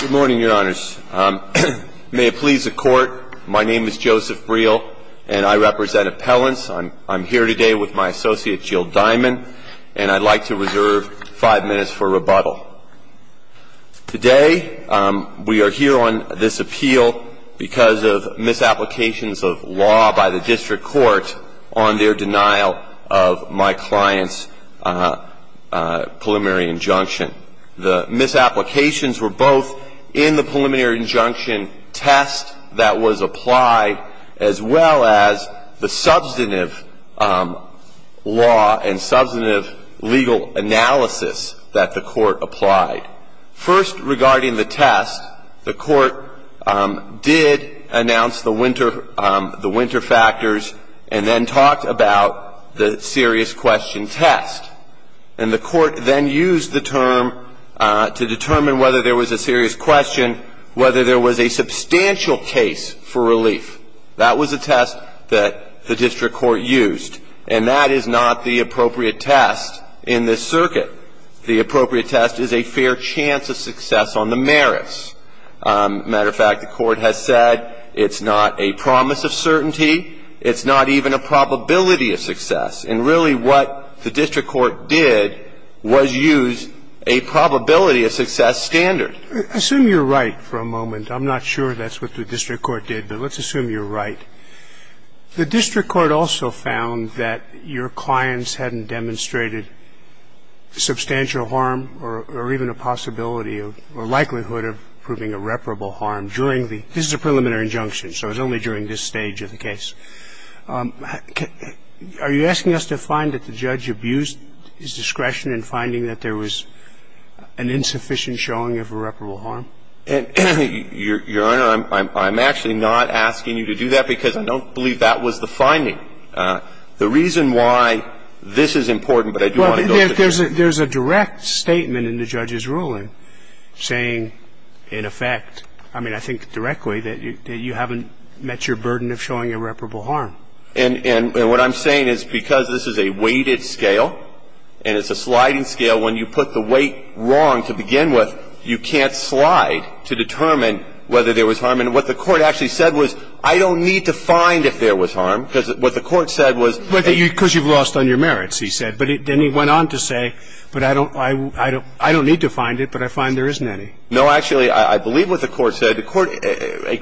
Good morning, your honors. May it please the court, my name is Joseph Briel, and I represent appellants. I'm here today with my associate, Jill Diamond, and I'd like to reserve five minutes for rebuttal. Today, we are here on this appeal because of misapplications of law by the district court on their denial of my client's preliminary injunction. The misapplications were both in the preliminary injunction test that was applied, as well as the substantive law and substantive legal analysis that the court applied. First, regarding the test, the court did announce the winter factors, and then talked about the serious question test. And the court then used the term to determine whether there was a serious question, whether there was a substantial case for relief. That was a test that the district court used, and that is not the appropriate test in this circuit. The appropriate test is a fair chance of success on the merits. Matter of fact, the court has said it's not a promise of certainty. It's not even a probability of success. And really, what the district court did was use a probability of success standard. Assume you're right for a moment. I'm not sure that's what the district court did, but let's assume you're right. The district court also found that your clients hadn't demonstrated substantial harm or even a possibility or likelihood of proving irreparable harm during the preliminary injunction. So it was only during this stage of the case. Are you asking us to find that the judge abused his discretion in finding that there was an insufficient showing of irreparable harm? Your Honor, I'm actually not asking you to do that, because I don't believe that was the finding. The reason why this is important, but I do want to go to the jury. There's a direct statement in the judge's ruling saying, in effect, I mean, I think directly, that you haven't met your burden of showing irreparable harm. And what I'm saying is, because this is a weighted scale, and it's a sliding scale, when you put the weight wrong to begin with, you can't slide to determine whether there was harm. And what the court actually said was, I don't need to find if there was harm, because what the court said was that you Because you've lost on your merits, he said. But then he went on to say, but I don't need to find it, but I find there isn't any. No, actually, I believe what the court said. The court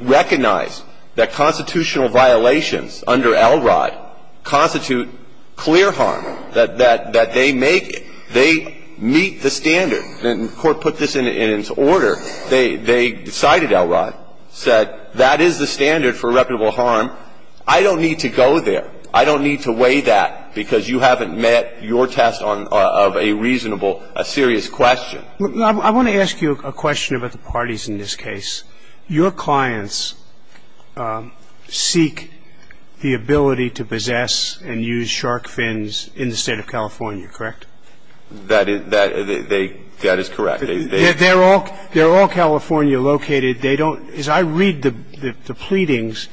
recognized that constitutional violations under Elrod constitute clear harm, that they make it. They meet the standard. And the court put this in its order. They decided, Elrod said, that is the standard for irreparable harm. I don't need to go there. I don't need to weigh that, because you haven't met your test of a reasonable, serious question. I want to ask you a question about the parties in this case. Your clients seek the ability to possess and use shark fins in the state of California, correct? That is correct. They're all California located. They don't, as I read the pleadings,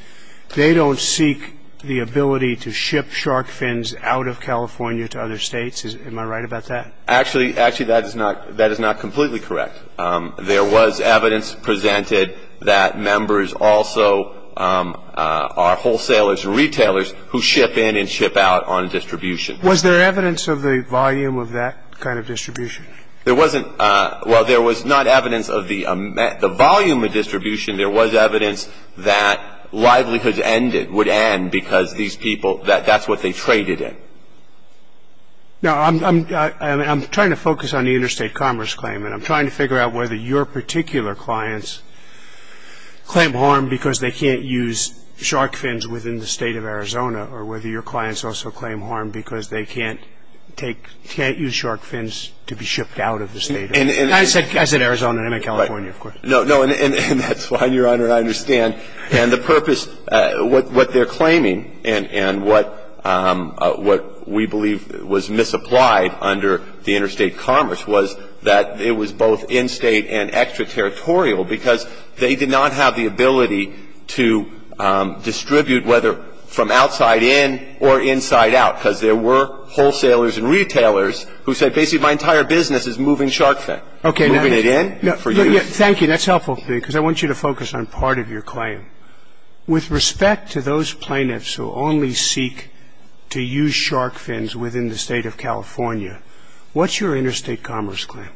they don't seek the ability to ship shark fins out of California to other states. Am I right about that? Actually, actually, that is not completely correct. There was evidence presented that members also are wholesalers, retailers, who ship in and ship out on distribution. Was there evidence of the volume of that kind of distribution? There wasn't. Well, there was not evidence of the volume of distribution. There was evidence that livelihoods would end, because these people, that's what they traded in. Now, I'm trying to focus on the interstate commerce claim, and I'm trying to figure out whether your particular clients claim harm because they can't use shark fins within the state of Arizona, or whether your clients also claim harm because they can't use shark fins to be shipped out of the state. And I said Arizona, not California, of course. No, no, and that's fine, Your Honor, I understand. And the purpose, what they're claiming, and what we believe was misapplied under the interstate commerce was that it was both in-state and extraterritorial, because they did not have the ability to distribute, whether from outside in or inside out, because there were wholesalers and retailers who said, basically, my entire business is moving shark fin. OK, now, thank you, that's helpful to me, because I want you to focus on part of your claim. With respect to those plaintiffs who only seek to use shark fins within the state of California, what's your interstate commerce claim?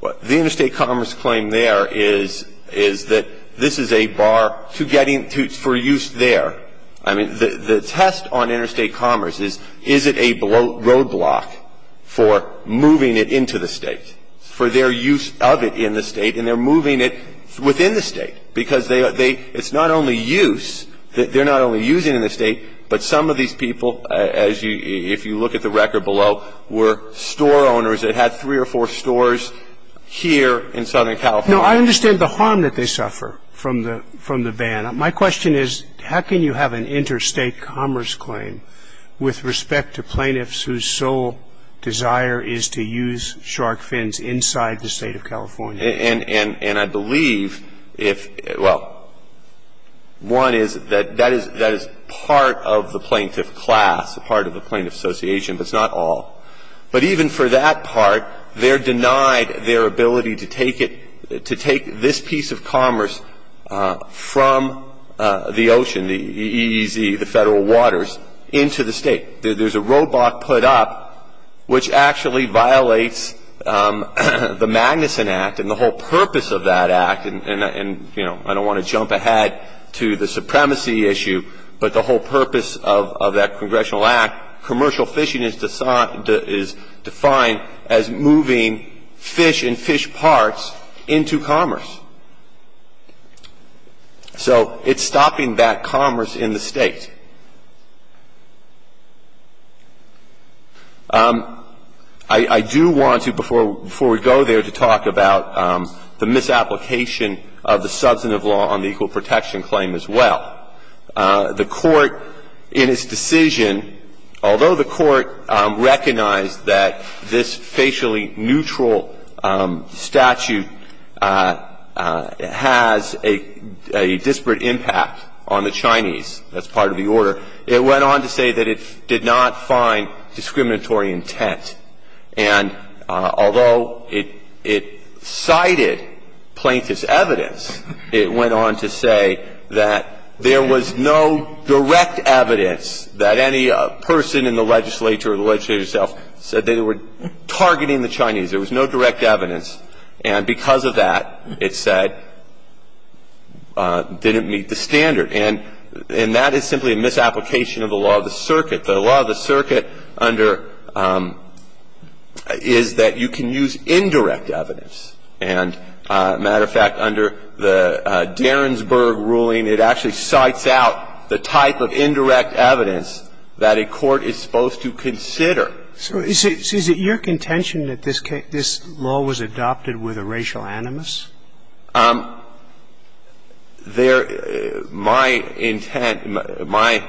The interstate commerce claim there is that this is a bar for use there. I mean, the test on interstate commerce is, is it a roadblock for moving it into the state, for their use of it in the state, and they're moving it within the state, because they, it's not only use, they're not only using it in the state, but some of these people, if you look at the record below, were store owners that had three or four stores here in Southern California. No, I understand the harm that they suffer from the van. My question is, how can you have an interstate commerce claim with respect to plaintiffs whose sole desire is to use shark fins inside the state of California? And I believe if, well, one is that that is part of the plaintiff class, part of the plaintiff association, but it's not all. But even for that part, they're denied their ability to take it, to take this piece of commerce from the ocean, the EEZ, the federal waters, into the state. There's a roadblock put up, which actually violates the Magnuson Act and the whole purpose of that act. And I don't want to jump ahead to the supremacy issue, but the whole purpose of that congressional act, commercial fishing is defined as moving fish and fish parts into commerce. So it's stopping that commerce in the state. I do want to, before we go there, to talk about the misapplication of the substantive law on the equal protection claim as well. The Court, in its decision, although the Court recognized that this facially neutral statute has a disparate impact on the Chinese, that's part of the EEZ, it went on to say that it did not find discriminatory intent. And although it cited plaintiff's evidence, it went on to say that there was no direct evidence that any person in the legislature or the legislature itself said they were targeting the Chinese. There was no direct evidence. And because of that, it said, didn't meet the standard. And that is simply a misapplication of the law of the circuit. The law of the circuit under EEZ, that you can use indirect evidence. And a matter of fact, under the Derensburg ruling, it actually cites out the type of indirect evidence that a court is supposed to consider. So is it your contention that this law was adopted with a racial animus? There my intent, my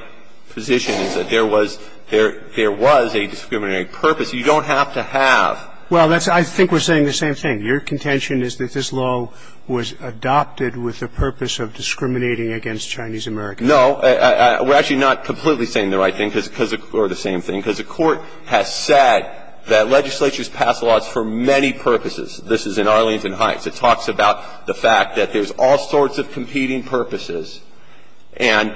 position is that there was a discriminatory purpose. You don't have to have. Well, that's why I think we're saying the same thing. Your contention is that this law was adopted with the purpose of discriminating against Chinese Americans. No. We're actually not completely saying the right thing, because the Court has said that legislatures pass laws for many purposes. This is in Arlington Heights. It talks about the fact that there's all sorts of competing purposes, and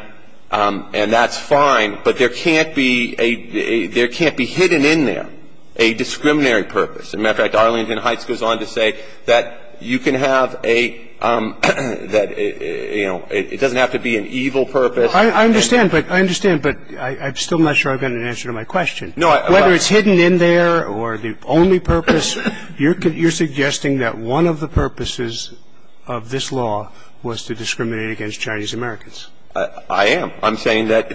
that's fine, but there can't be a – there can't be hidden in there a discriminatory And, matter of fact, Arlington Heights goes on to say that you can have a – that it, you know, it doesn't have to be an evil purpose. I understand, but I understand, but I'm still not sure I've got an answer to my question. No, I – Whether it's hidden in there or the only purpose, you're suggesting that one of the purposes of this law was to discriminate against Chinese Americans. I am. I'm saying that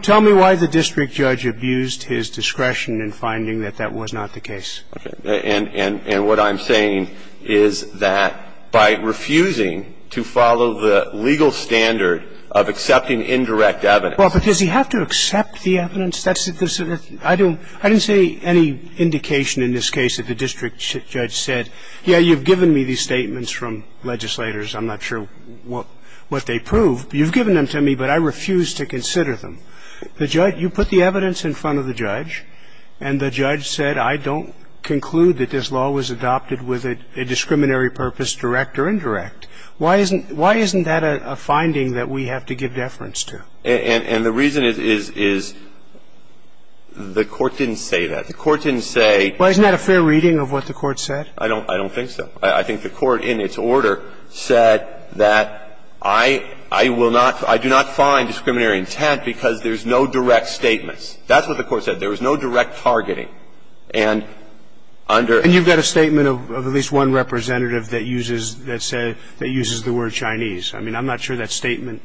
– Tell me why the district judge abused his discretion in finding that that was not the case. Okay. And what I'm saying is that by refusing to follow the legal standard of accepting indirect evidence – Well, but does he have to accept the evidence? That's – I don't – I didn't see any indication in this case that the district judge said, yeah, you've given me these statements from legislators. I'm not sure what they prove. You've given them to me, but I refuse to consider them. The judge – you put the evidence in front of the judge, and the judge said, I don't conclude that this law was adopted with a discriminatory purpose, direct or indirect. Why isn't – why isn't that a finding that we have to give deference to? And the reason is the court didn't say that. The court didn't say – Well, isn't that a fair reading of what the court said? I don't – I don't think so. I think the court, in its order, said that I – I will not – I do not find discriminatory intent because there's no direct statements. That's what the court said. There was no direct targeting. And under – And you've got a statement of at least one representative that uses – that said – that uses the word Chinese. I mean, I'm not sure that statement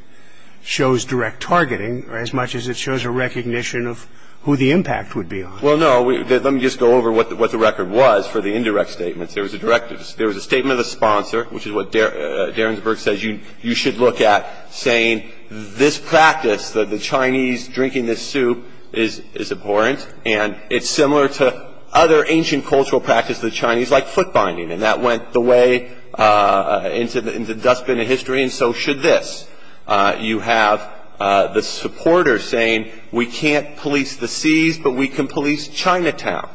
shows direct targeting as much as it shows a recognition of who the impact would be on. Well, no. Let me just go over what the record was for the indirect statements. There was a direct – there was a statement of the sponsor, which is what Derensburg says you should look at, saying this practice, the Chinese drinking this soup, is abhorrent, and it's similar to other ancient cultural practices of the Chinese, like foot binding. And that went the way into the dustbin of history, and so should this. You have the supporters saying we can't police the seas, but we can police Chinatown.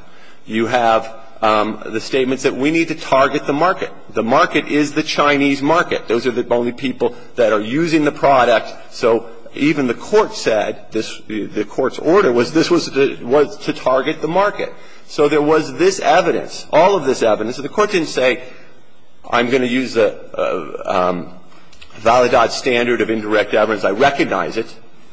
You have the statements that we need to target the market. The market is the Chinese market. Those are the only people that are using the product. So even the court said this – the court's order was this was to target the market. So there was this evidence, all of this evidence. So the court didn't say, I'm going to use the Validad standard of indirect evidence. I recognize it.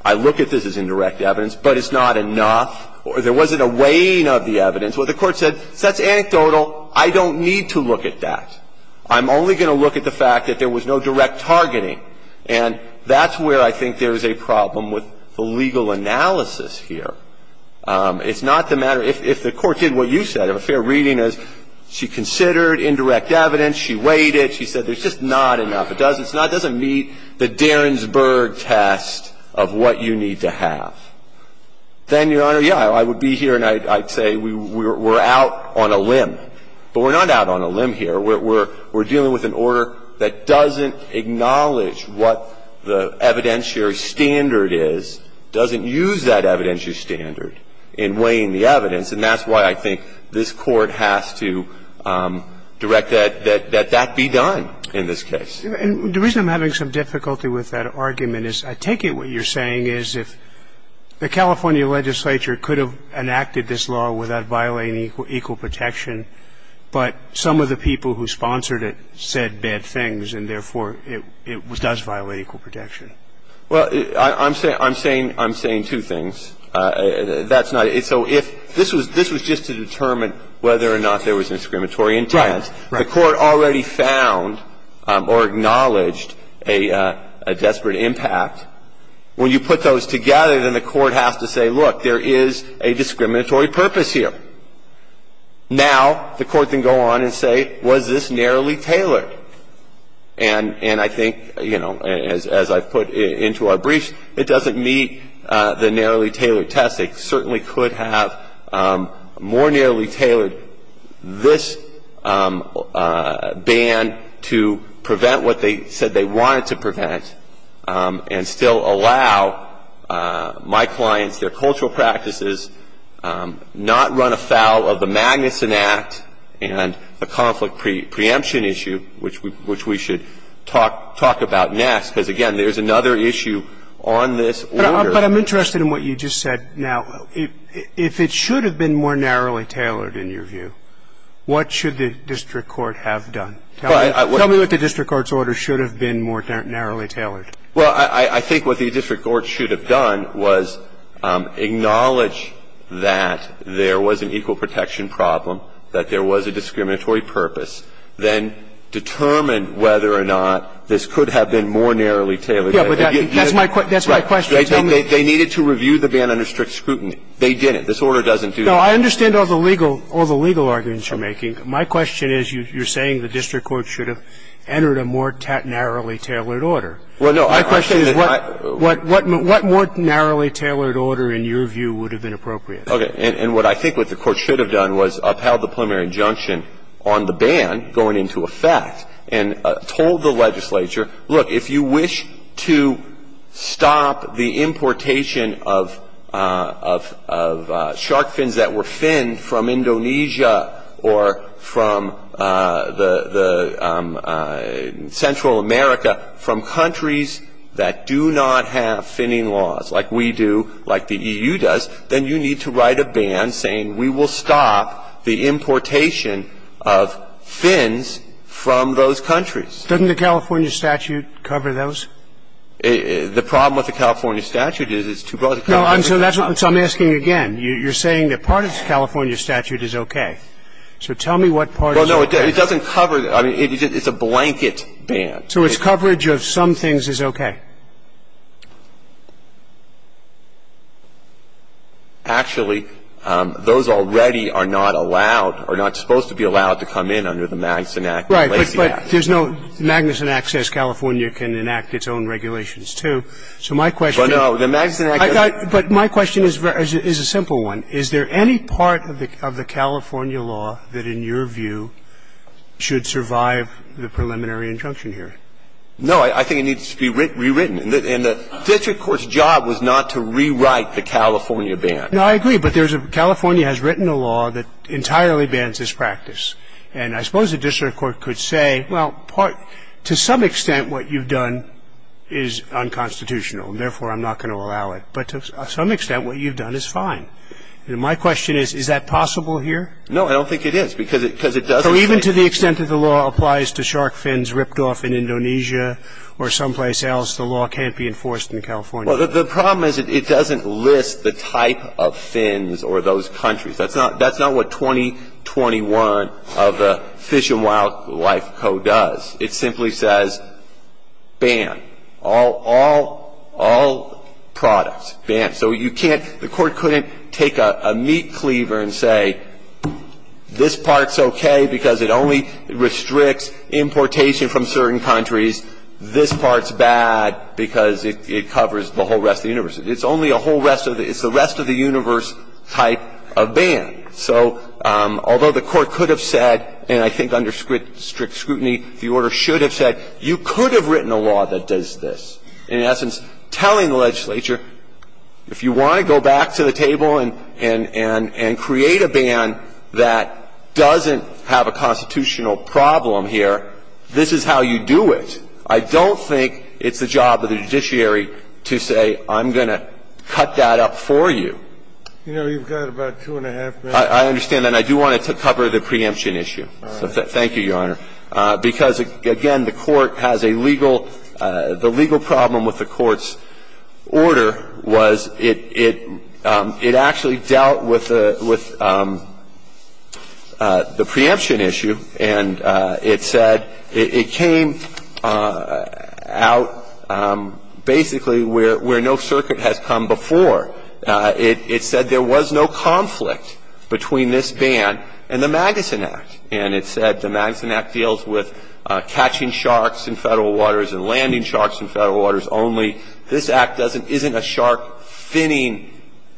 I look at this as indirect evidence, but it's not enough. There wasn't a weighing of the evidence. What the court said, that's anecdotal. I don't need to look at that. I'm only going to look at the fact that there was no direct targeting. And that's where I think there's a problem with the legal analysis here. It's not the matter – if the court did what you said, if a fair reading is she can consider it indirect evidence, she weighed it, she said there's just not enough. It doesn't meet the Derensburg test of what you need to have. Then, Your Honor, yeah, I would be here and I'd say we're out on a limb. But we're not out on a limb here. We're dealing with an order that doesn't acknowledge what the evidentiary standard is, doesn't use that evidentiary standard in weighing the evidence. And that's why I think this Court has to direct that that be done in this case. And the reason I'm having some difficulty with that argument is I take it what you're saying is if the California legislature could have enacted this law without violating equal protection, but some of the people who sponsored it said bad things, and therefore it does violate equal protection. Well, I'm saying two things. That's not – so if – this was just to determine whether or not there was discriminatory intent. Right. The Court already found or acknowledged a desperate impact. When you put those together, then the Court has to say, look, there is a discriminatory purpose here. Now the Court can go on and say, was this narrowly tailored? And I think, you know, as I've put into our briefs, it doesn't meet the narrowly tailored test. They certainly could have more narrowly tailored this ban to prevent what they said they wanted to prevent and still allow my clients, their cultural practices, not run afoul of the Magnuson Act and the conflict preemption issue, which we should talk about next. Because, again, there's another issue on this order. But I'm interested in what you just said. Now, if it should have been more narrowly tailored, in your view, what should the district court have done? Tell me what the district court's order should have been more narrowly tailored. Well, I think what the district court should have done was acknowledge that there was an equal protection problem, that there was a discriminatory purpose, then determine whether or not this could have been more narrowly tailored. Yeah, but that's my question. They needed to review the ban under strict scrutiny. They didn't. This order doesn't do that. No, I understand all the legal arguments you're making. My question is, you're saying the district court should have entered a more narrowly tailored order. Well, no. My question is, what more narrowly tailored order, in your view, would have been Okay. And what I think what the court should have done was upheld the preliminary injunction on the ban going into effect, and told the legislature, look, if you wish to stop the importation of shark fins that were finned from Indonesia or from the Central America, from countries that do not have finning laws, like we do, like the EU does, then you need to write a ban saying we will stop the importation of shark fins from those countries. Doesn't the California statute cover those? The problem with the California statute is it's too broad. No, so that's what I'm asking again. You're saying that part of the California statute is okay. So tell me what part is okay. Well, no, it doesn't cover the – I mean, it's a blanket ban. So its coverage of some things is okay. Actually, those already are not allowed, are not to be allowed to be covered. The California statute is not supposed to be allowed to come in under the Magnuson Act or the Lacey Act. Right, but there's no – the Magnuson Act says California can enact its own regulations, too. So my question – But no, the Magnuson Act doesn't – But my question is a simple one. Is there any part of the California law that, in your view, should survive the preliminary injunction here? No, I think it needs to be rewritten. And the district court's job was not to rewrite the California ban. No, I agree. But there's a – California has written a law that entirely bans this practice. And I suppose the district court could say, well, to some extent, what you've done is unconstitutional, and therefore, I'm not going to allow it. But to some extent, what you've done is fine. And my question is, is that possible here? No, I don't think it is, because it doesn't – So even to the extent that the law applies to shark fins ripped off in Indonesia or someplace else, the law can't be enforced in California? Well, the problem is it doesn't list the type of fins or those countries. That's not – that's not what 2021 of the Fish and Wildlife Code does. It simply says, ban all – all products, ban. So you can't – the Court couldn't take a meat cleaver and say, this part's okay because it only restricts importation from certain countries, this part's bad because it covers the whole rest of the universe. It's only a whole rest of the – it's the rest of the universe type of ban. So although the Court could have said, and I think under strict scrutiny, the Order should have said, you could have written a law that does this, in essence, telling the legislature, if you want to go back to the table and – and create a ban that doesn't have a constitutional problem here, this is how you do it. I don't think it's the job of the judiciary to say, I'm going to cut that up for you. You know, you've got about two and a half minutes. I understand that. I do want to cover the preemption issue. All right. Thank you, Your Honor, because, again, the Court has a legal – the legal problem with the Court's order was it – it actually dealt with the – with the preemption issue, and it said – it came out basically where no circuit has come before. It said there was no conflict between this ban and the Magnuson Act, and it said the Magnuson Act deals with catching sharks in federal waters and landing sharks in federal waters only. This act doesn't – isn't a shark-finning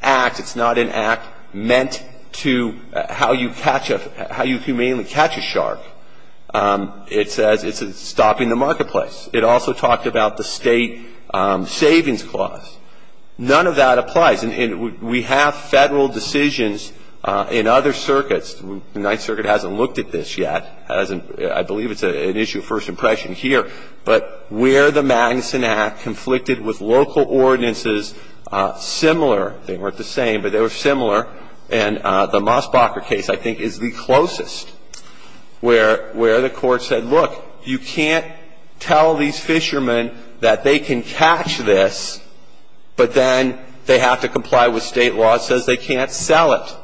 act. It's not an act meant to – how you catch a – how you humanely catch a shark. It says it's stopping the marketplace. It also talked about the state savings clause. None of that applies, and we have federal decisions in other circuits. The Ninth Circuit hasn't looked at this yet, hasn't – I believe it's an issue of first impression here, but where the Magnuson Act conflicted with local ordinances similar – they weren't the same, but they were similar, and the Mosbacher case, I think, is the closest, where the Court said, look, you can't tell these fishermen that they can catch this, but then they have to comply with state laws, says they can't sell it.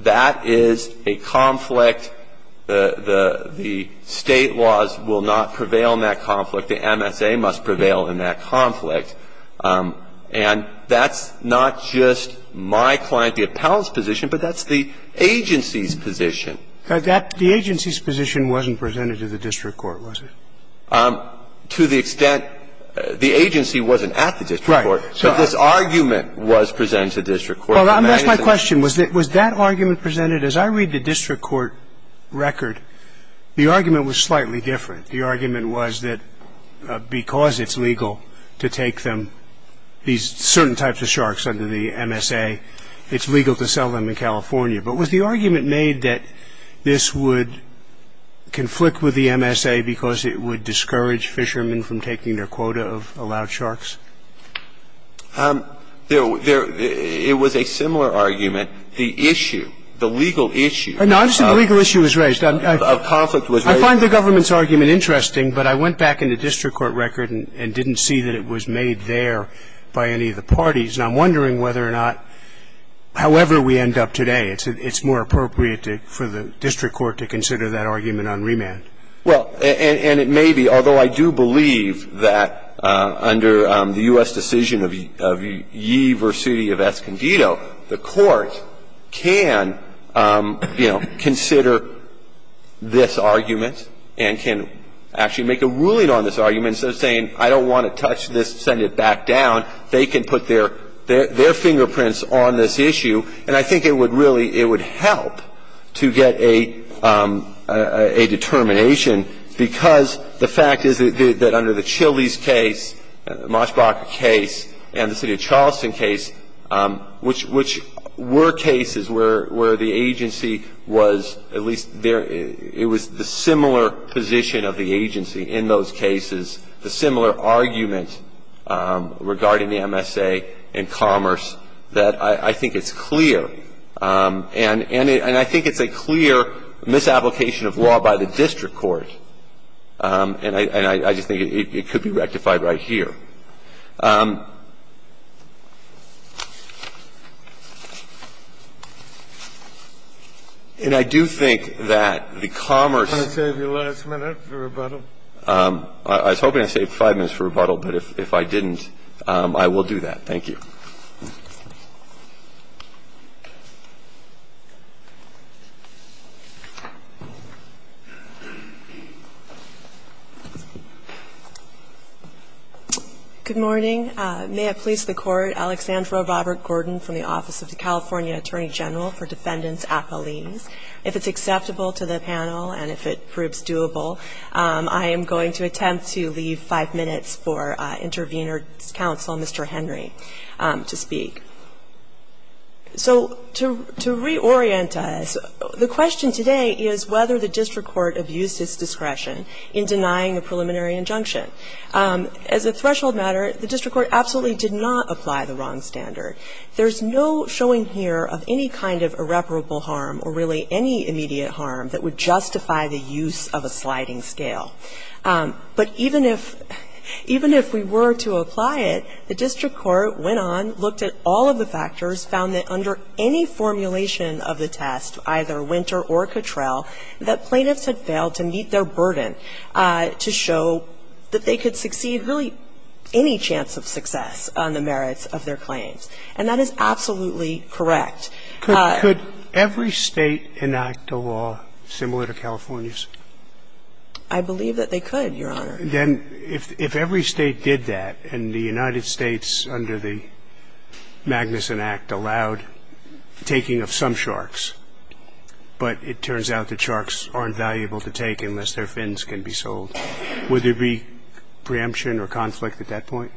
That is a conflict – the state laws will not prevail in that conflict. The MSA must prevail in that conflict. And that's not just my client, the appellant's position, but that's the agency's position. The agency's position wasn't presented to the district court, was it? To the extent – the agency wasn't at the district court. Right. But this argument was presented to the district court. Well, that's my question. Was that argument presented – as I read the district court record, the argument was slightly different. The argument was that because it's legal to take them – these certain types of sharks under the MSA, it's legal to sell them in California. But was the argument made that this would conflict with the MSA because it would discourage fishermen from taking their quota of allowed sharks? It was a similar argument. The issue – the legal issue – No, I'm saying the legal issue was raised. A conflict was raised. I find the government's argument interesting, but I went back in the district court record and didn't see that it was made there by any of the parties. And I'm wondering whether or not, however we end up today, it's more appropriate for the district court to consider that argument on remand. Well, and it may be, although I do believe that under the U.S. decision of Ye Vercitti of Escondido, the Court can, you know, consider this argument and can actually make a ruling on this argument instead of saying, I don't want to touch this, send it back down. They can put their – their fingerprints on this issue, and I think it would really – it would help to get a determination because the fact is that under the Chili's case, the Moshbach case, and the city of Charleston case, there's a lot of evidence which were cases where the agency was at least there – it was the similar position of the agency in those cases, the similar argument regarding the MSA and commerce that I think it's clear, and I think it's a clear misapplication of law by the district court, and I just think it could be rectified right here. Thank you. And I do think that the commerce – Can I save your last minute for rebuttal? I was hoping I'd save five minutes for rebuttal, but if I didn't, I will do that. Thank you. Good morning. May it please the Court, Alexandra Robert-Gordon from the Office of the California Attorney General for Defendants Appellees. If it's acceptable to the panel and if it proves doable, I am going to attempt to leave five minutes for intervener counsel, Mr. Henry. To speak. So to reorient us, the question today is whether the district court abused its discretion in denying a preliminary injunction. As a threshold matter, the district court absolutely did not apply the wrong standard. There's no showing here of any kind of irreparable harm or really any immediate harm that would justify the use of a sliding scale. But even if we were to apply it, the district court went on, looked at all of the factors, found that under any formulation of the test, either Winter or Cottrell, that plaintiffs had failed to meet their burden to show that they could succeed really any chance of success on the merits of their claims. And that is absolutely correct. Could every State enact a law similar to California's? I believe that they could, Your Honor. Then if every State did that and the United States, under the Magnuson Act, allowed taking of some sharks, but it turns out that sharks aren't valuable to take unless their fins can be sold, would there be preemption or conflict at that point?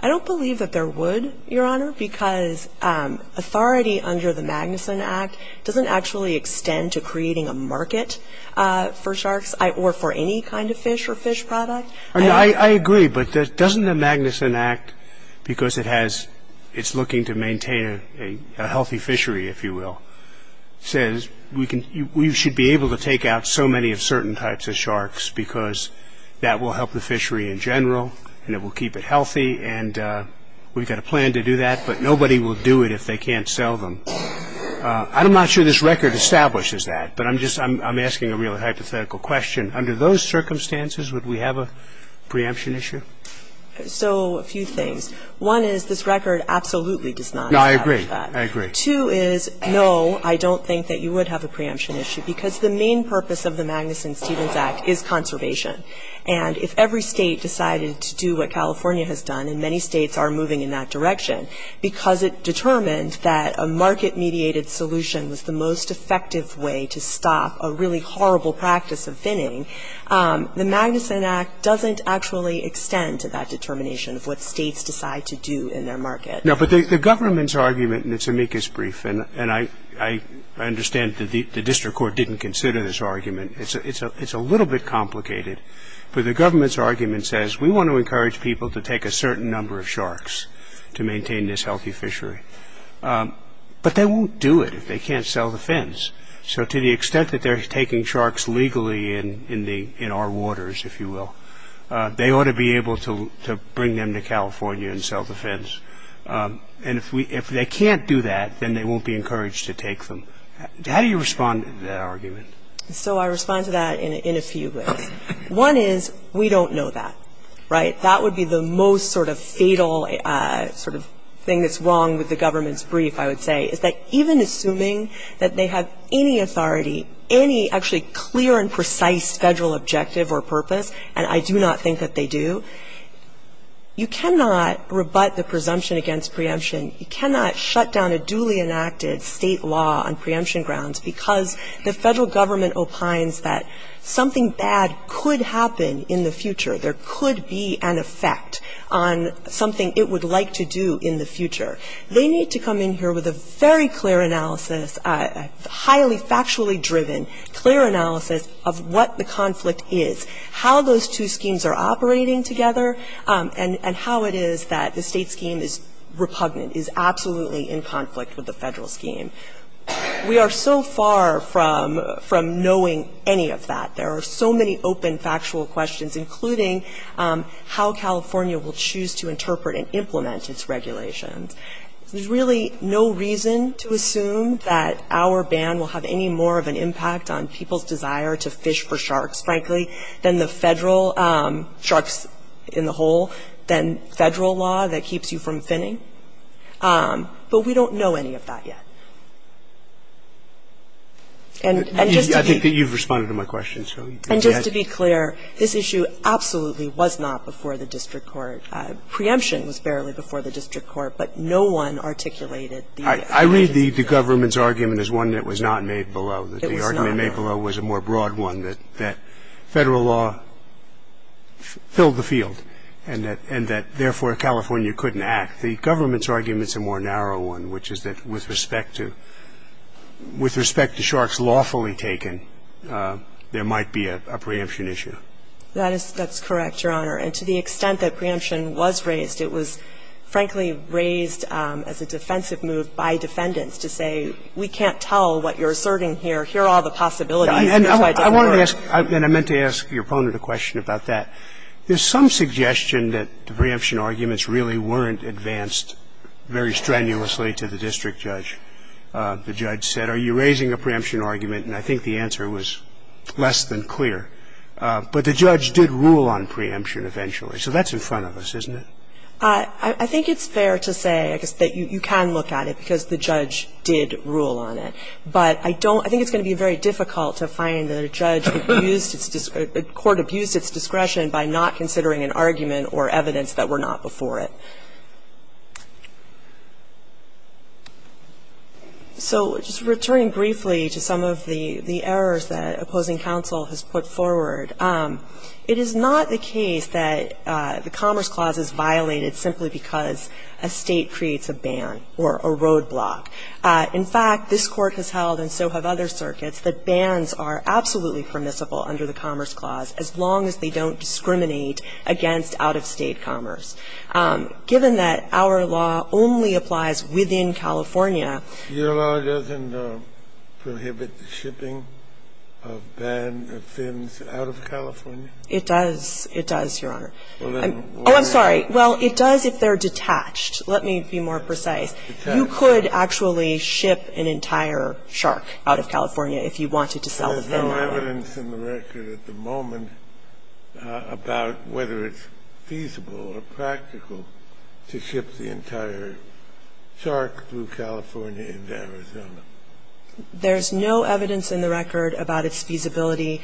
I don't believe that there would, Your Honor, because authority under the Magnuson Act doesn't actually extend to creating a market for sharks or for any kind of fish or fish product. I agree, but doesn't the Magnuson Act, because it has, it's looking to maintain a healthy fishery, if you will, says we should be able to take out so many of certain types of sharks because that will help the fishery in general and it will keep it I'm not sure this record establishes that, but I'm just, I'm asking a real hypothetical question. Under those circumstances, would we have a preemption issue? So a few things. One is this record absolutely does not establish that. No, I agree, I agree. Two is, no, I don't think that you would have a preemption issue because the main purpose of the Magnuson-Stevens Act is conservation. And if every State decided to do what California has done, and many States are moving in that direction, because it determined that a market-mediated solution was the most effective way to stop a really horrible practice of thinning, the Magnuson Act doesn't actually extend to that determination of what States decide to do in their market. No, but the government's argument, and it's amicus brief, and I understand that the district court didn't consider this argument. It's a little bit complicated, but the government's argument says we want to maintain this healthy fishery. But they won't do it if they can't sell the fins. So to the extent that they're taking sharks legally in our waters, if you will, they ought to be able to bring them to California and sell the fins. And if they can't do that, then they won't be encouraged to take them. How do you respond to that argument? So I respond to that in a few ways. One is, we don't know that, right? That would be the most sort of fatal sort of thing that's wrong with the government's brief, I would say, is that even assuming that they have any authority, any actually clear and precise federal objective or purpose, and I do not think that they do, you cannot rebut the presumption against preemption. You cannot shut down a duly enacted state law on preemption grounds because the federal government opines that something bad could happen in the future. There could be an effect on something it would like to do in the future. They need to come in here with a very clear analysis, a highly factually driven, clear analysis of what the conflict is, how those two schemes are operating together, and how it is that the state scheme is repugnant, is absolutely in conflict with the federal scheme. We are so far from knowing any of that. There are so many open factual questions, including how California will choose to interpret and implement its regulations. There's really no reason to assume that our ban will have any more of an impact on people's desire to fish for sharks, frankly, than the federal sharks in the hole, than federal law that keeps you from finning. But we don't know any of that yet. And just to be clear, this issue absolutely was not before the district court. Preemption was barely before the district court, but no one articulated the legislation. I read the government's argument as one that was not made below. It was not. The argument made below was a more broad one, that federal law filled the field and that therefore California couldn't act. The government's argument is a more narrow one, which is that with respect to sharks lawfully taken, there might be a preemption issue. That is correct, Your Honor. And to the extent that preemption was raised, it was, frankly, raised as a defensive move by defendants to say, we can't tell what you're asserting here. Here are all the possibilities. And I meant to ask your opponent a question about that. There's some suggestion that the preemption arguments really weren't advanced very strenuously to the district judge. The judge said, are you raising a preemption argument? And I think the answer was less than clear. But the judge did rule on preemption eventually. So that's in front of us, isn't it? I think it's fair to say that you can look at it because the judge did rule on it. But I don't – I think it's going to be very difficult to find that a judge abused its – a court abused its discretion by not considering an argument or evidence that were not before it. So just returning briefly to some of the errors that opposing counsel has put forward, it is not the case that the Commerce Clause is violated simply because a state creates a ban or a roadblock. In fact, this Court has held and so have other circuits that bans are absolutely permissible under the Commerce Clause as long as they don't discriminate against out-of-state commerce. Given that our law only applies within California. Your law doesn't prohibit the shipping of banned fins out of California? It does. It does, Your Honor. Oh, I'm sorry. Well, it does if they're detached. Let me be more precise. Detached. You could actually ship an entire shark out of California if you wanted to sell the fin. There's no evidence in the record at the moment about whether it's feasible or practical to ship the entire shark through California into Arizona. There's no evidence in the record about its feasibility.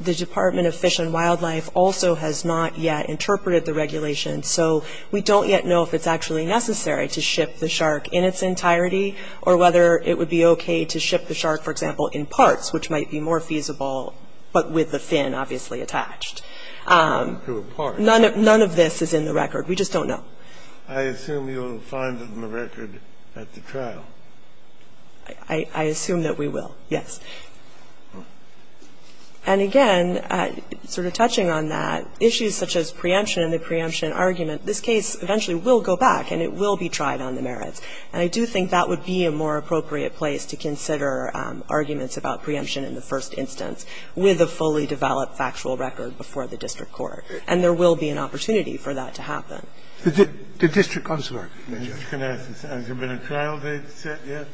The Department of Fish and Wildlife also has not yet interpreted the regulation, so we don't yet know if it's actually necessary to ship the shark in its entirety or whether it would be okay to ship the shark, for example, in parts, which might be more feasible, but with the fin obviously attached. None of this is in the record. We just don't know. I assume you'll find it in the record at the trial. I assume that we will, yes. And again, sort of touching on that, issues such as preemption and the preemption argument, this case eventually will go back and it will be tried on the merits. And I do think that would be a more appropriate place to consider arguments about preemption in the first instance with a fully developed factual record before the district court. And there will be an opportunity for that to happen. The district counselor. Has there been a trial date set yet?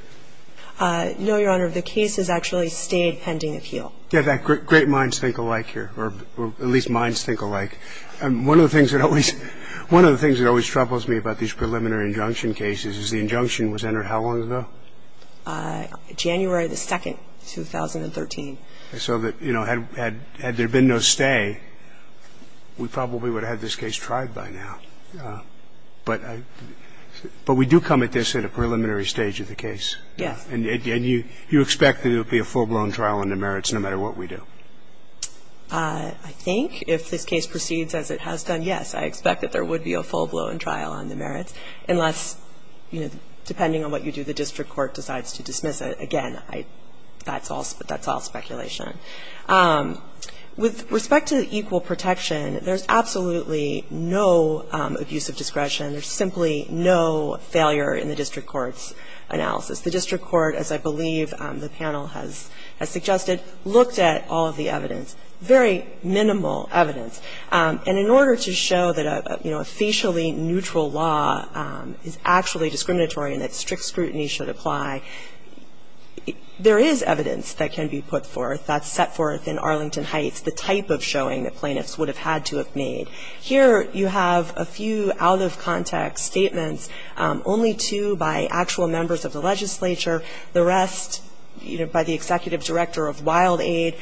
No, Your Honor. The case has actually stayed pending appeal. Great minds think alike here, or at least minds think alike. One of the things that always troubles me about these preliminary injunction cases is the injunction was entered how long ago? January the 2nd, 2013. So that, you know, had there been no stay, we probably would have had this case tried by now. But we do come at this at a preliminary stage of the case. Yes. And you expect that it would be a full-blown trial on the merits no matter what we do? I think if this case proceeds as it has done, yes, I expect that there would be a full trial on the merits. Depending on what you do, the district court decides to dismiss it. Again, that's all speculation. With respect to equal protection, there's absolutely no abuse of discretion. There's simply no failure in the district court's analysis. The district court, as I believe the panel has suggested, looked at all of the evidence. Very minimal evidence. And in order to show that, you know, a facially neutral law is actually discriminatory and that strict scrutiny should apply, there is evidence that can be put forth that's set forth in Arlington Heights, the type of showing that plaintiffs would have had to have made. Here you have a few out-of-context statements, only two by actual members of the legislature, the rest, you know, by the executive director of WildAid.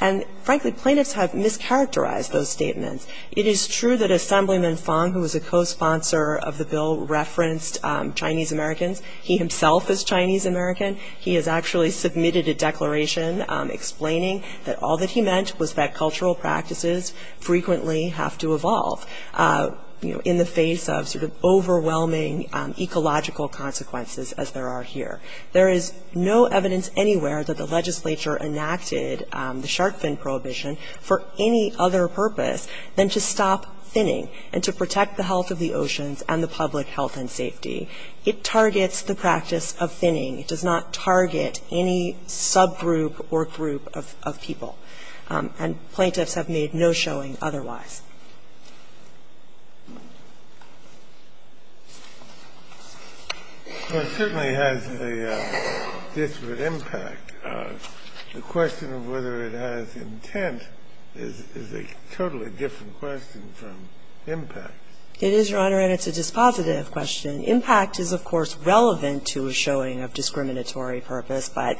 And frankly, plaintiffs have mischaracterized those statements. It is true that Assemblyman Fong, who was a co-sponsor of the bill, referenced Chinese-Americans. He himself is Chinese-American. He has actually submitted a declaration explaining that all that he meant was that cultural practices frequently have to evolve, you know, in the face of sort of overwhelming ecological consequences as there are here. There is no evidence anywhere that the legislature enacted the shark fin prohibition for any other purpose than to stop finning and to protect the health of the oceans and the public health and safety. It targets the practice of finning. It does not target any subgroup or group of people. And plaintiffs have made no showing otherwise. It certainly has a disparate impact. The question of whether it has intent is a totally different question from impact. It is, Your Honor, and it's a dispositive question. Impact is, of course, relevant to a showing of discriminatory purpose. But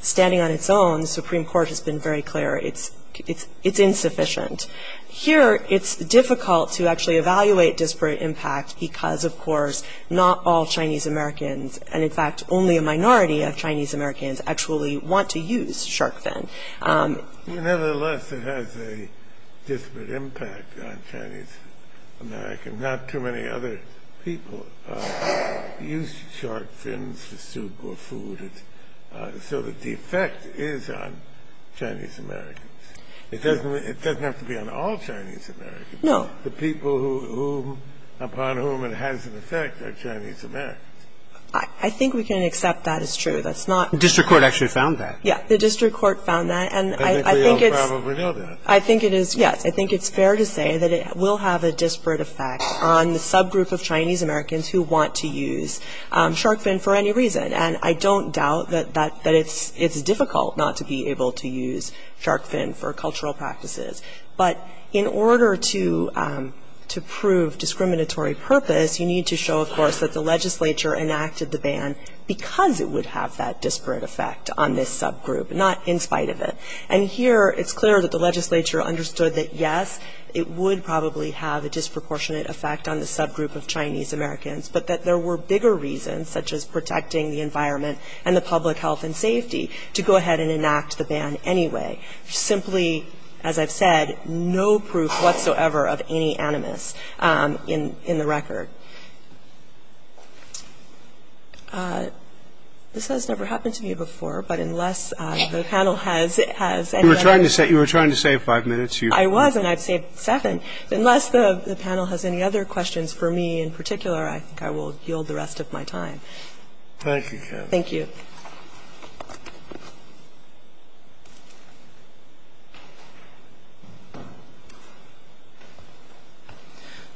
standing on its own, the Supreme Court has been very clear. It's insufficient. Here, it's difficult to actually evaluate disparate impact because, of course, not all Chinese-Americans and, in fact, only a minority of Chinese-Americans actually want to use shark fin. Nevertheless, it has a disparate impact on Chinese-Americans. Not too many other people use shark fins for soup or food. So the defect is on Chinese-Americans. It doesn't have to be on all Chinese-Americans. Kagan. No. The people upon whom it has an effect are Chinese-Americans. I think we can accept that as true. That's not the case. The district court actually found that. Yes. The district court found that. And I think it's fair to say that it will have a disparate effect on the subgroup of Chinese-Americans who want to use shark fin for any reason. And I don't doubt that it's difficult not to be able to use shark fin for cultural practices. But in order to prove discriminatory purpose, you need to show, of course, that the legislature enacted the ban because it would have that disparate effect on this subgroup, not in spite of it. And here, it's clear that the legislature understood that, yes, it would probably have a disproportionate effect on the subgroup of Chinese-Americans, but that there were bigger reasons, such as protecting the environment and the public health and safety, to go ahead and enact the ban anyway. Simply, as I've said, no proof whatsoever of any animus in the record. This has never happened to me before, but unless the panel has any other questions. You were trying to save five minutes. I was, and I've saved seven. Unless the panel has any other questions for me in particular, I think I will yield the rest of my time. Thank you. Thank you.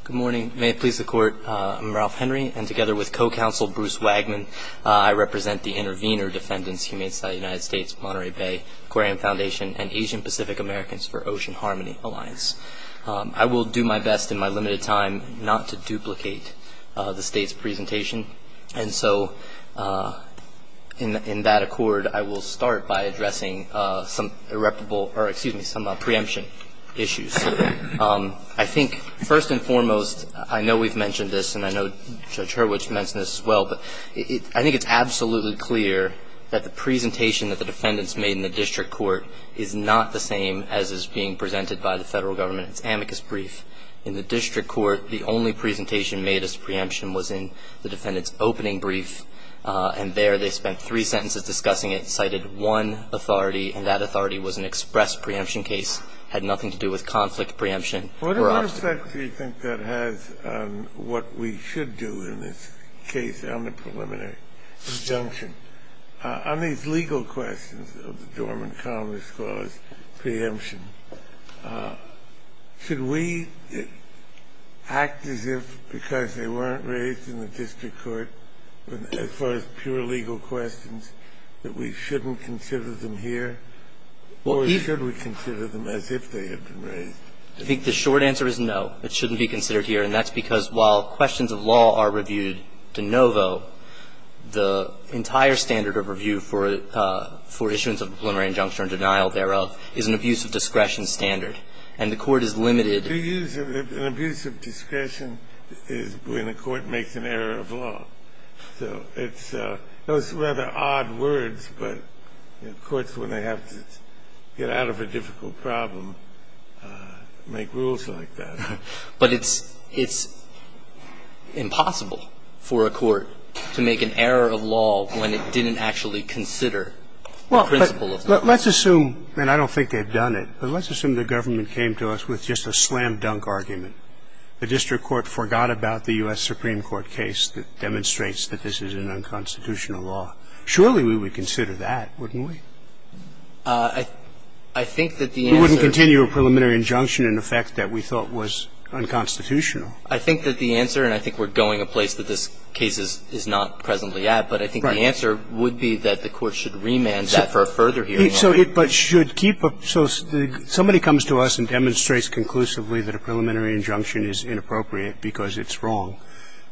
Good morning. May it please the Court. I'm Ralph Henry, and together with co-counsel Bruce Wagman, I represent the intervener defendants, Humane Society of the United States, Monterey Bay, Aquarium Foundation, and Asian Pacific Americans for Ocean Harmony Alliance. I will do my best in my limited time not to duplicate the State's presentation, and so in that accord, I will start by addressing some preemption issues. I think first and foremost, I know we've mentioned this, and I know Judge Hurwitz mentioned this as well, but I think it's absolutely clear that the presentation that the defendants made in the district court is not the same as is being presented by the federal government. It's amicus brief. In the district court, the only presentation made as preemption was in the defendant's opening brief, and there they spent three sentences discussing it and cited one authority, and that authority was an express preemption case. It had nothing to do with conflict preemption. What effect do you think that has on what we should do in this case on the preliminary disjunction? On these legal questions of the Dormant Columnist Clause preemption, should we act as if because they weren't raised in the district court as far as pure legal questions, that we shouldn't consider them here? Or should we consider them as if they had been raised? I think the short answer is no. It shouldn't be considered here, and that's because while questions of law are reviewed de novo, the entire standard of review for issuance of a preliminary injunction or denial thereof is an abuse of discretion standard, and the court is limited. To use an abuse of discretion is when the court makes an error of law. So it's a – those are rather odd words, but courts, when they have to get out of a difficult problem, make rules like that. But it's impossible for a court to make an error of law when it didn't actually consider the principle of law. Let's assume – and I don't think they've done it – but let's assume the government came to us with just a slam-dunk argument. The district court forgot about the U.S. Supreme Court case that demonstrates that this is an unconstitutional law. Surely we would consider that, wouldn't we? I think that the answer – We wouldn't continue a preliminary injunction in effect that we thought was unconstitutional. I think that the answer – and I think we're going a place that this case is not presently at – Right. My answer would be that the court should remand that for a further hearing. So it – but should keep – so somebody comes to us and demonstrates conclusively that a preliminary injunction is inappropriate because it's wrong.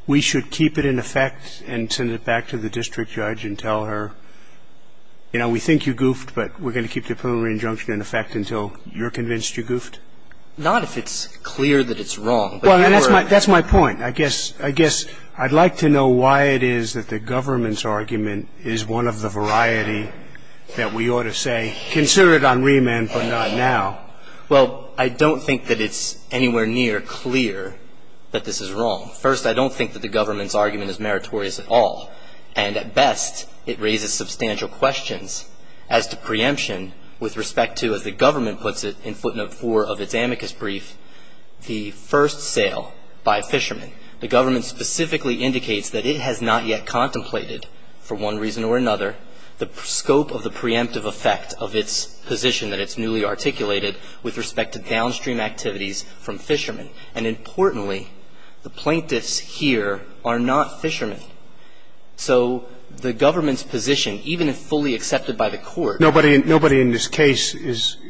We should keep it in effect and send it back to the district judge and tell her, you know, we think you goofed, but we're going to keep the preliminary injunction in effect until you're convinced you goofed? Not if it's clear that it's wrong. Well, that's my – that's my point. I guess – I guess I'd like to know why it is that the government's argument is one of the variety that we ought to say, consider it on remand but not now. Well, I don't think that it's anywhere near clear that this is wrong. First, I don't think that the government's argument is meritorious at all. And at best, it raises substantial questions as to preemption with respect to, as the government puts it in footnote 4 of its amicus brief, the first sale by a fisherman. The government specifically indicates that it has not yet contemplated for one reason or another the scope of the preemptive effect of its position that it's newly articulated with respect to downstream activities from fishermen. And importantly, the plaintiffs here are not fishermen. So the government's position, even if fully accepted by the court – Nobody – nobody in this case is –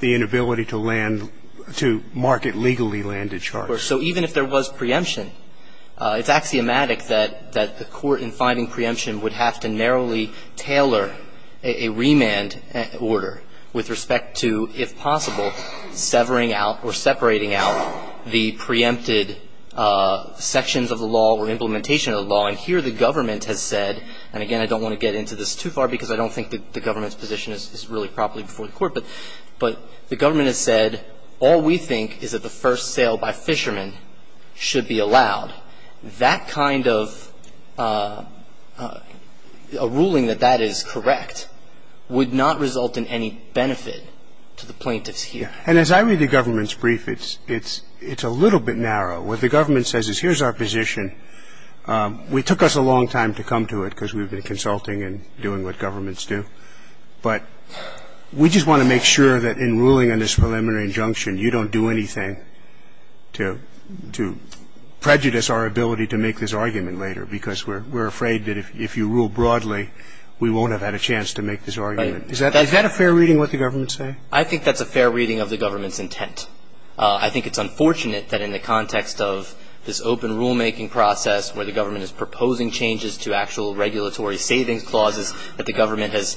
the inability to land – to market legally landed charges. So even if there was preemption, it's axiomatic that the court, in finding preemption, would have to narrowly tailor a remand order with respect to, if possible, severing out or separating out the preempted sections of the law or implementation of the law. And here the government has said – and again, I don't want to get into this too far because I don't think the government's position is really properly before the court – but the government has said all we think is that the first sale by fishermen should be allowed. That kind of – a ruling that that is correct would not result in any benefit to the plaintiffs here. And as I read the government's brief, it's a little bit narrow. What the government says is here's our position. It took us a long time to come to it because we've been consulting and doing what governments do. But we just want to make sure that in ruling on this preliminary injunction, you don't do anything to prejudice our ability to make this argument later because we're afraid that if you rule broadly, we won't have had a chance to make this argument. Is that a fair reading, what the government's saying? I think that's a fair reading of the government's intent. I think it's unfortunate that in the context of this open rulemaking process where the government is proposing changes to actual regulatory savings clauses that the government has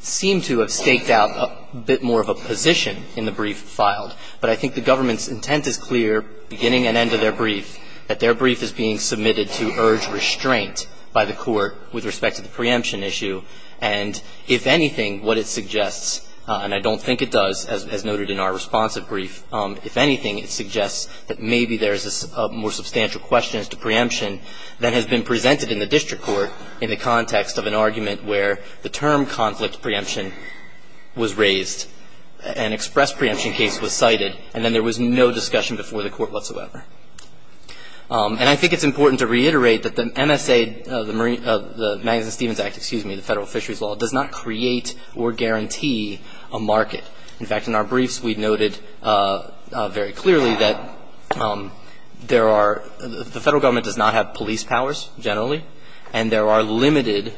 seemed to have staked out a bit more of a position in the brief filed. But I think the government's intent is clear beginning and end of their brief that their brief is being submitted to urge restraint by the court with respect to the preemption issue. And if anything, what it suggests, and I don't think it does, as noted in our responsive brief, if anything, it suggests that maybe there's a more substantial question as to preemption than has been presented in the district court in the context of an argument where the term conflict preemption was raised and express preemption case was cited and then there was no discussion before the court whatsoever. And I think it's important to reiterate that the MSA, the Madison-Stevens Act, excuse me, the federal fisheries law, does not create or guarantee a market. In fact, in our briefs, we noted very clearly that there are... the federal government does not have police powers generally. And there are limited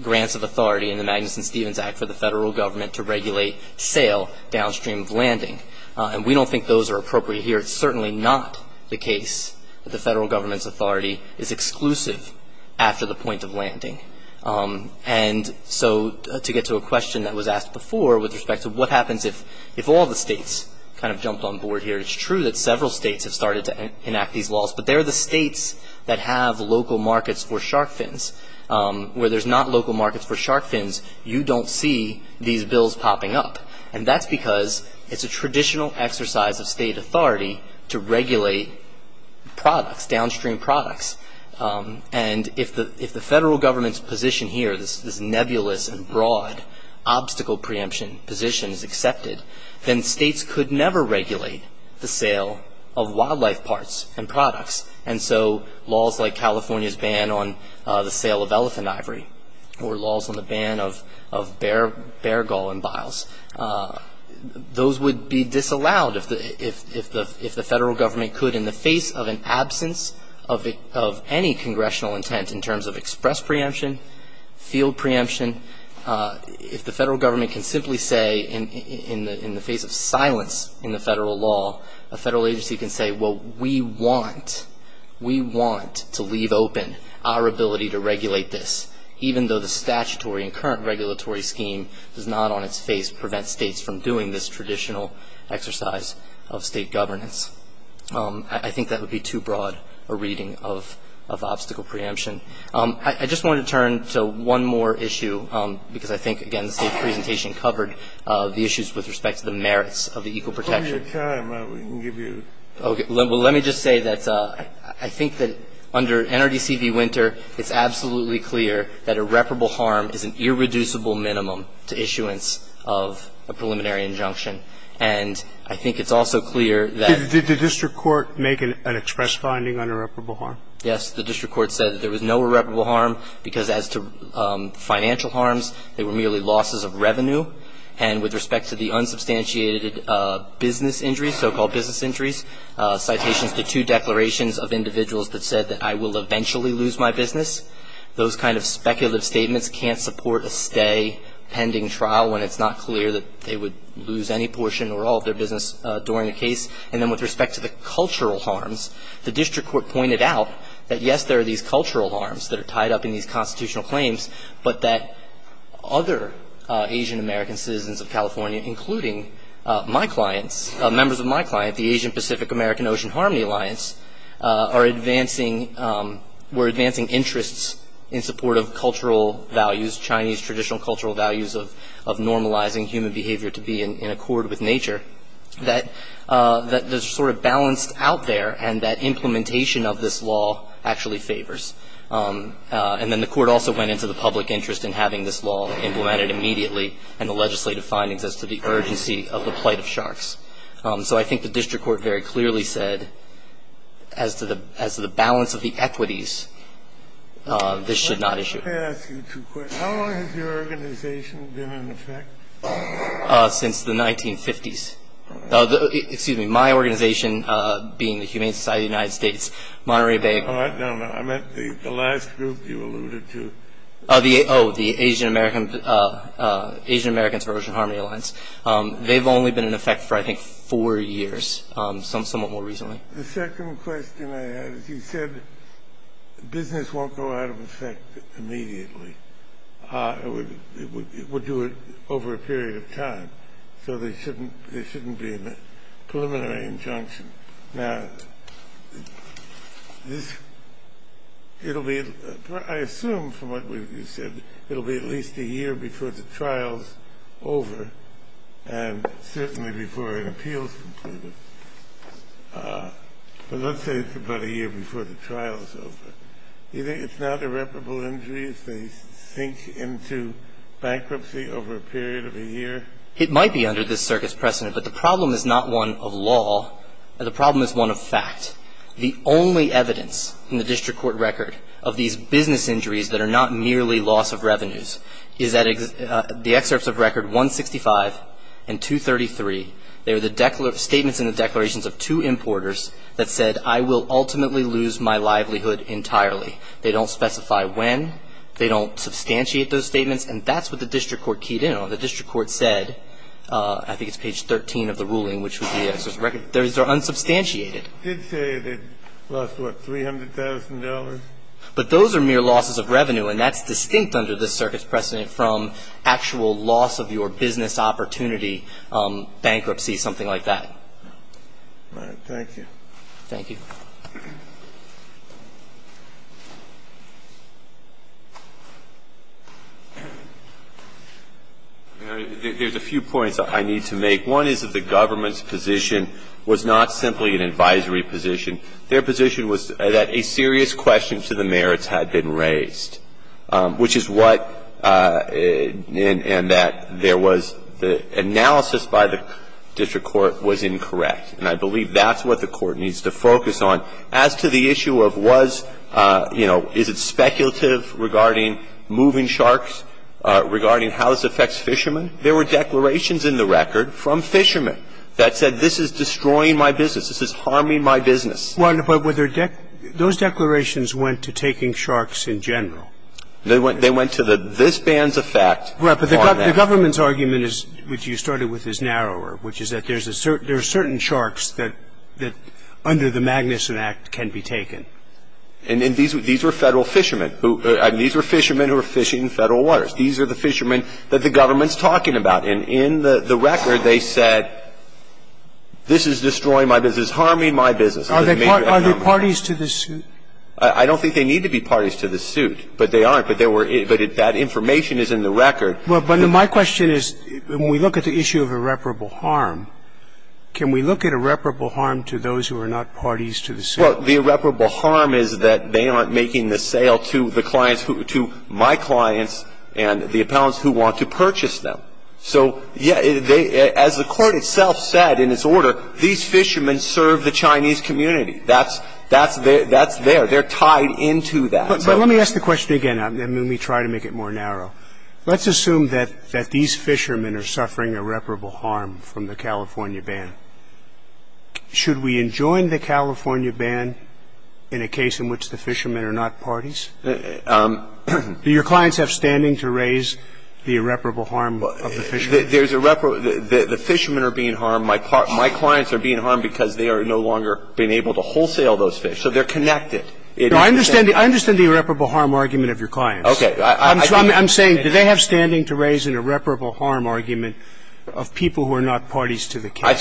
grants of authority in the Madison-Stevens Act for the federal government to regulate sale downstream of landing. And we don't think those are appropriate here. It's certainly not the case that the federal government's authority is exclusive after the point of landing. And so to get to a question that was asked before with respect to what happens if all the states kind of jumped on board here. It's true that several states have started to enact these laws. But they're the states that have local markets for shark fins. Where there's not local markets for shark fins, you don't see these bills popping up. And that's because it's a traditional exercise of state authority to regulate products, downstream products. And if the federal government's position here, this nebulous and broad obstacle preemption position is accepted, then states could never regulate the sale of wildlife parts and products. And so laws like California's ban on the sale of elephant ivory or laws on the ban of bear gall and biles, those would be disallowed if the federal government could in the face of an absence of any congressional intent in terms of express preemption, field preemption. If the federal government can simply say in the face of silence in the federal law, a federal agency can say, well, we want, we want to leave open our ability to regulate this even though the statutory and current regulatory scheme does not on its face prevent states from doing this traditional exercise of state governance. I think that would be too broad a reading of obstacle preemption. I just want to turn to one more issue because I think, again, this presentation covered the issues with respect to the merits of the equal protection. Hold your time. We can give you... Well, let me just say that I think that under NRDC v. Winter, it's absolutely clear that irreparable harm is an irreducible minimum to issuance of a preliminary injunction. And I think it's also clear that... Did the district court make an express finding on irreparable harm? Yes, the district court said that there was no irreparable harm because as to financial harms, they were merely losses of revenue. And with respect to the unsubstantiated business injuries, so-called business injuries, citations to two declarations of individuals that said that I will eventually lose my business, those kind of speculative statements can't support a stay pending trial when it's not clear that they would lose any portion or all of their business during the case. And then with respect to the cultural harms, the district court pointed out that, yes, there are these cultural harms that are tied up in these constitutional claims, but that other Asian American citizens of California including my clients, members of my client, the Asian Pacific American Ocean Harmony Alliance, are advancing... were advancing interests in support of cultural values, Chinese traditional cultural values of normalizing human behavior to be in accord with nature that is sort of balanced out there and that implementation of this law actually favors. And then the court also went into the public interest in having this law implemented immediately and the legislative findings as to the urgency of the plight of sharks. So I think the district court very clearly said as to the balance of the equities, this should not issue. Let me ask you two questions. How long has your organization been in effect? Since the 1950s. Excuse me, my organization being the Humane Society of the United States, Monterey Bay... No, no, I meant the last group you alluded to. Oh, the Asian American... Asian Americans of Ocean Harmony Alliance. They've only been in effect for, I think, four years, somewhat more recently. The second question I have is you said business won't go out of effect immediately. It would do it over a period of time. So there shouldn't be a preliminary injunction. Now, it'll be, I assume from what you said, it'll be at least a year before the trial's over and certainly before an appeal is completed. But let's say it's about a year before the trial's over. Do you think it's not irreparable injury if they sink into bankruptcy over a period of a year? It might be under this circuit's precedent, but the problem is not one of law. The problem is one of fact. The only evidence in the district court record of these business injuries that are not merely loss of revenues is that the excerpts of record 165 and 233 they were the statements in the declarations of two importers that said I will ultimately lose my livelihood entirely. They don't specify when. They don't substantiate those statements and that's what the district court keyed in on. The district court said, I think it's page 13 of the ruling which was the excerpt of the record. Those are unsubstantiated. They did say they lost, what, $300,000? But those are mere losses of revenue and that's distinct under this circuit's precedent from actual loss of your business opportunity, bankruptcy, something like that. All right. Thank you. Thank you. There's a few I need to make. One is that the government's position was not simply an advisory position. Their position was, at any point, that the government had a serious question to the merits had been raised, which is what and that there was the analysis by the district court was incorrect and I believe that's what the court needs to focus on. As to the issue of was, you know, is it speculative regarding moving sharks, regarding how this affects fishermen, there were declarations in the record from fishermen that said, this is destroying my business, this is harming my business. Those declarations went to taking sharks in general. They went to this bans effect. Right, but the government's argument, which you started with, is narrower, which is that there are certain sharks that under the Magnuson Act can be taken. And these were federal waters. These are the fishermen that the government's talking about. And in the record they said, this is destroying my business, harming my business. Are they parties to the suit? I don't think they need to be parties to the suit, but they aren't. But that information is in the record. But my question is, when we look at the issue of irreparable harm, can we look at irreparable harm to those who are not parties to the suit? Well, the irreparable harm is that they aren't making the sale to my clients and the appellants who want to purchase them. So, as the court itself said in its order, these fishermen serve the Chinese community. That's there. They're tied into that. But let me ask the question again. Let me try to make it more narrow. Let's assume that these fishermen are suffering irreparable harm from the California ban. Should we enjoin the California ban in a case in which the fishermen are not parties? Do your clients have standing to raise the irreparable harm of the fishermen? The fishermen are being harmed. My clients are being harmed because they are no longer being able to wholesale those fish. So they're connected. I understand the irreparable harm argument of your clients. I'm saying do they have standing to raise an irreparable harm argument of people who are not parties to the case? I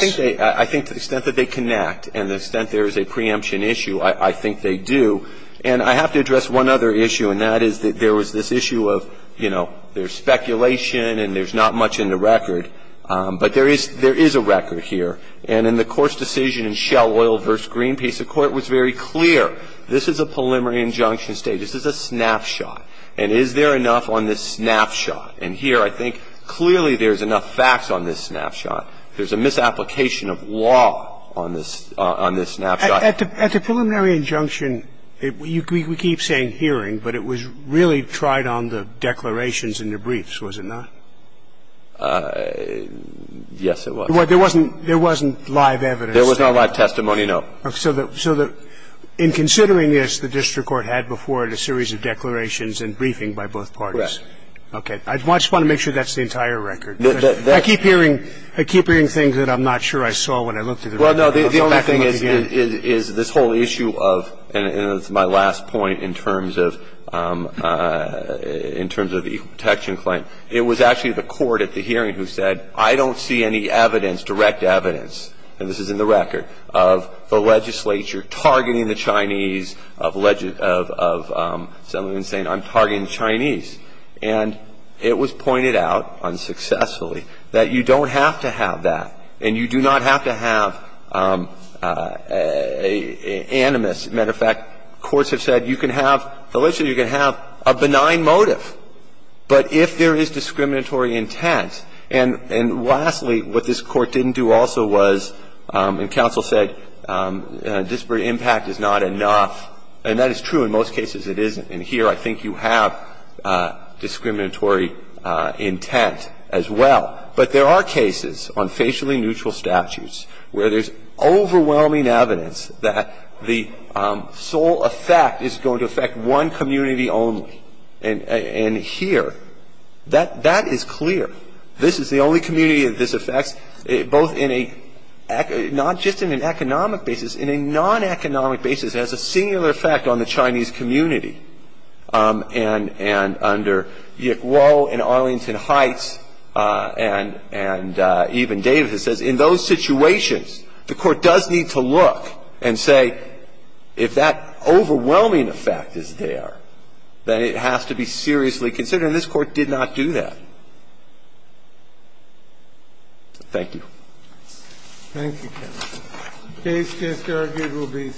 think to the extent that they connect and the extent there is a preemption issue, I think they do. And I have to address one other issue and that is that there was this issue of, you know, there's speculation and there's not much in the record, but there is a record here. And in the course decision in Shell Oil v. Greenpeace, the Court was very clear this is a preliminary injunction state. This is a snapshot. And is there enough on this snapshot? And here I think clearly there's enough facts on this snapshot. There's a misapplication of law on this snapshot. At the preliminary injunction, we keep saying hearing, but it was really tried on the declarations and the briefs, was it not? Yes, it was. There wasn't live evidence? There was no live testimony, no. So in considering this, the district court had before it a series of declarations and briefing by both the Supreme Court. And this is my last point in terms of the equal protection claim. It was actually the court at the hearing who said I don't see any evidence, direct evidence, and this is in the record, of the legislature targeting the Chinese of saying I'm targeting the Chinese. And it was pointed out unsuccessfully that you don't have to have that and you do not have to have animus. As a matter of fact, courts have said you can have a benign motive, but if there is discriminatory intent. And lastly, what this court didn't do also was, and counsel said, disparate impact is not enough. And that is true in most cases it isn't. And here I think you have discriminatory intent as well. But there are cases on facially neutral statutes where there is a intent. And this is the only community that this affects, both in a, not just in an economic basis, in a non-economic basis, has a singular effect on the Chinese community. And under Yick Wo and Arlington Heights and even Davis, it says, in those situations, the court does need to look and say, if that overwhelming effect is there, then it has to be seriously considered. And this court did not do that. Thank you. Thank you, counsel. The case disargued will be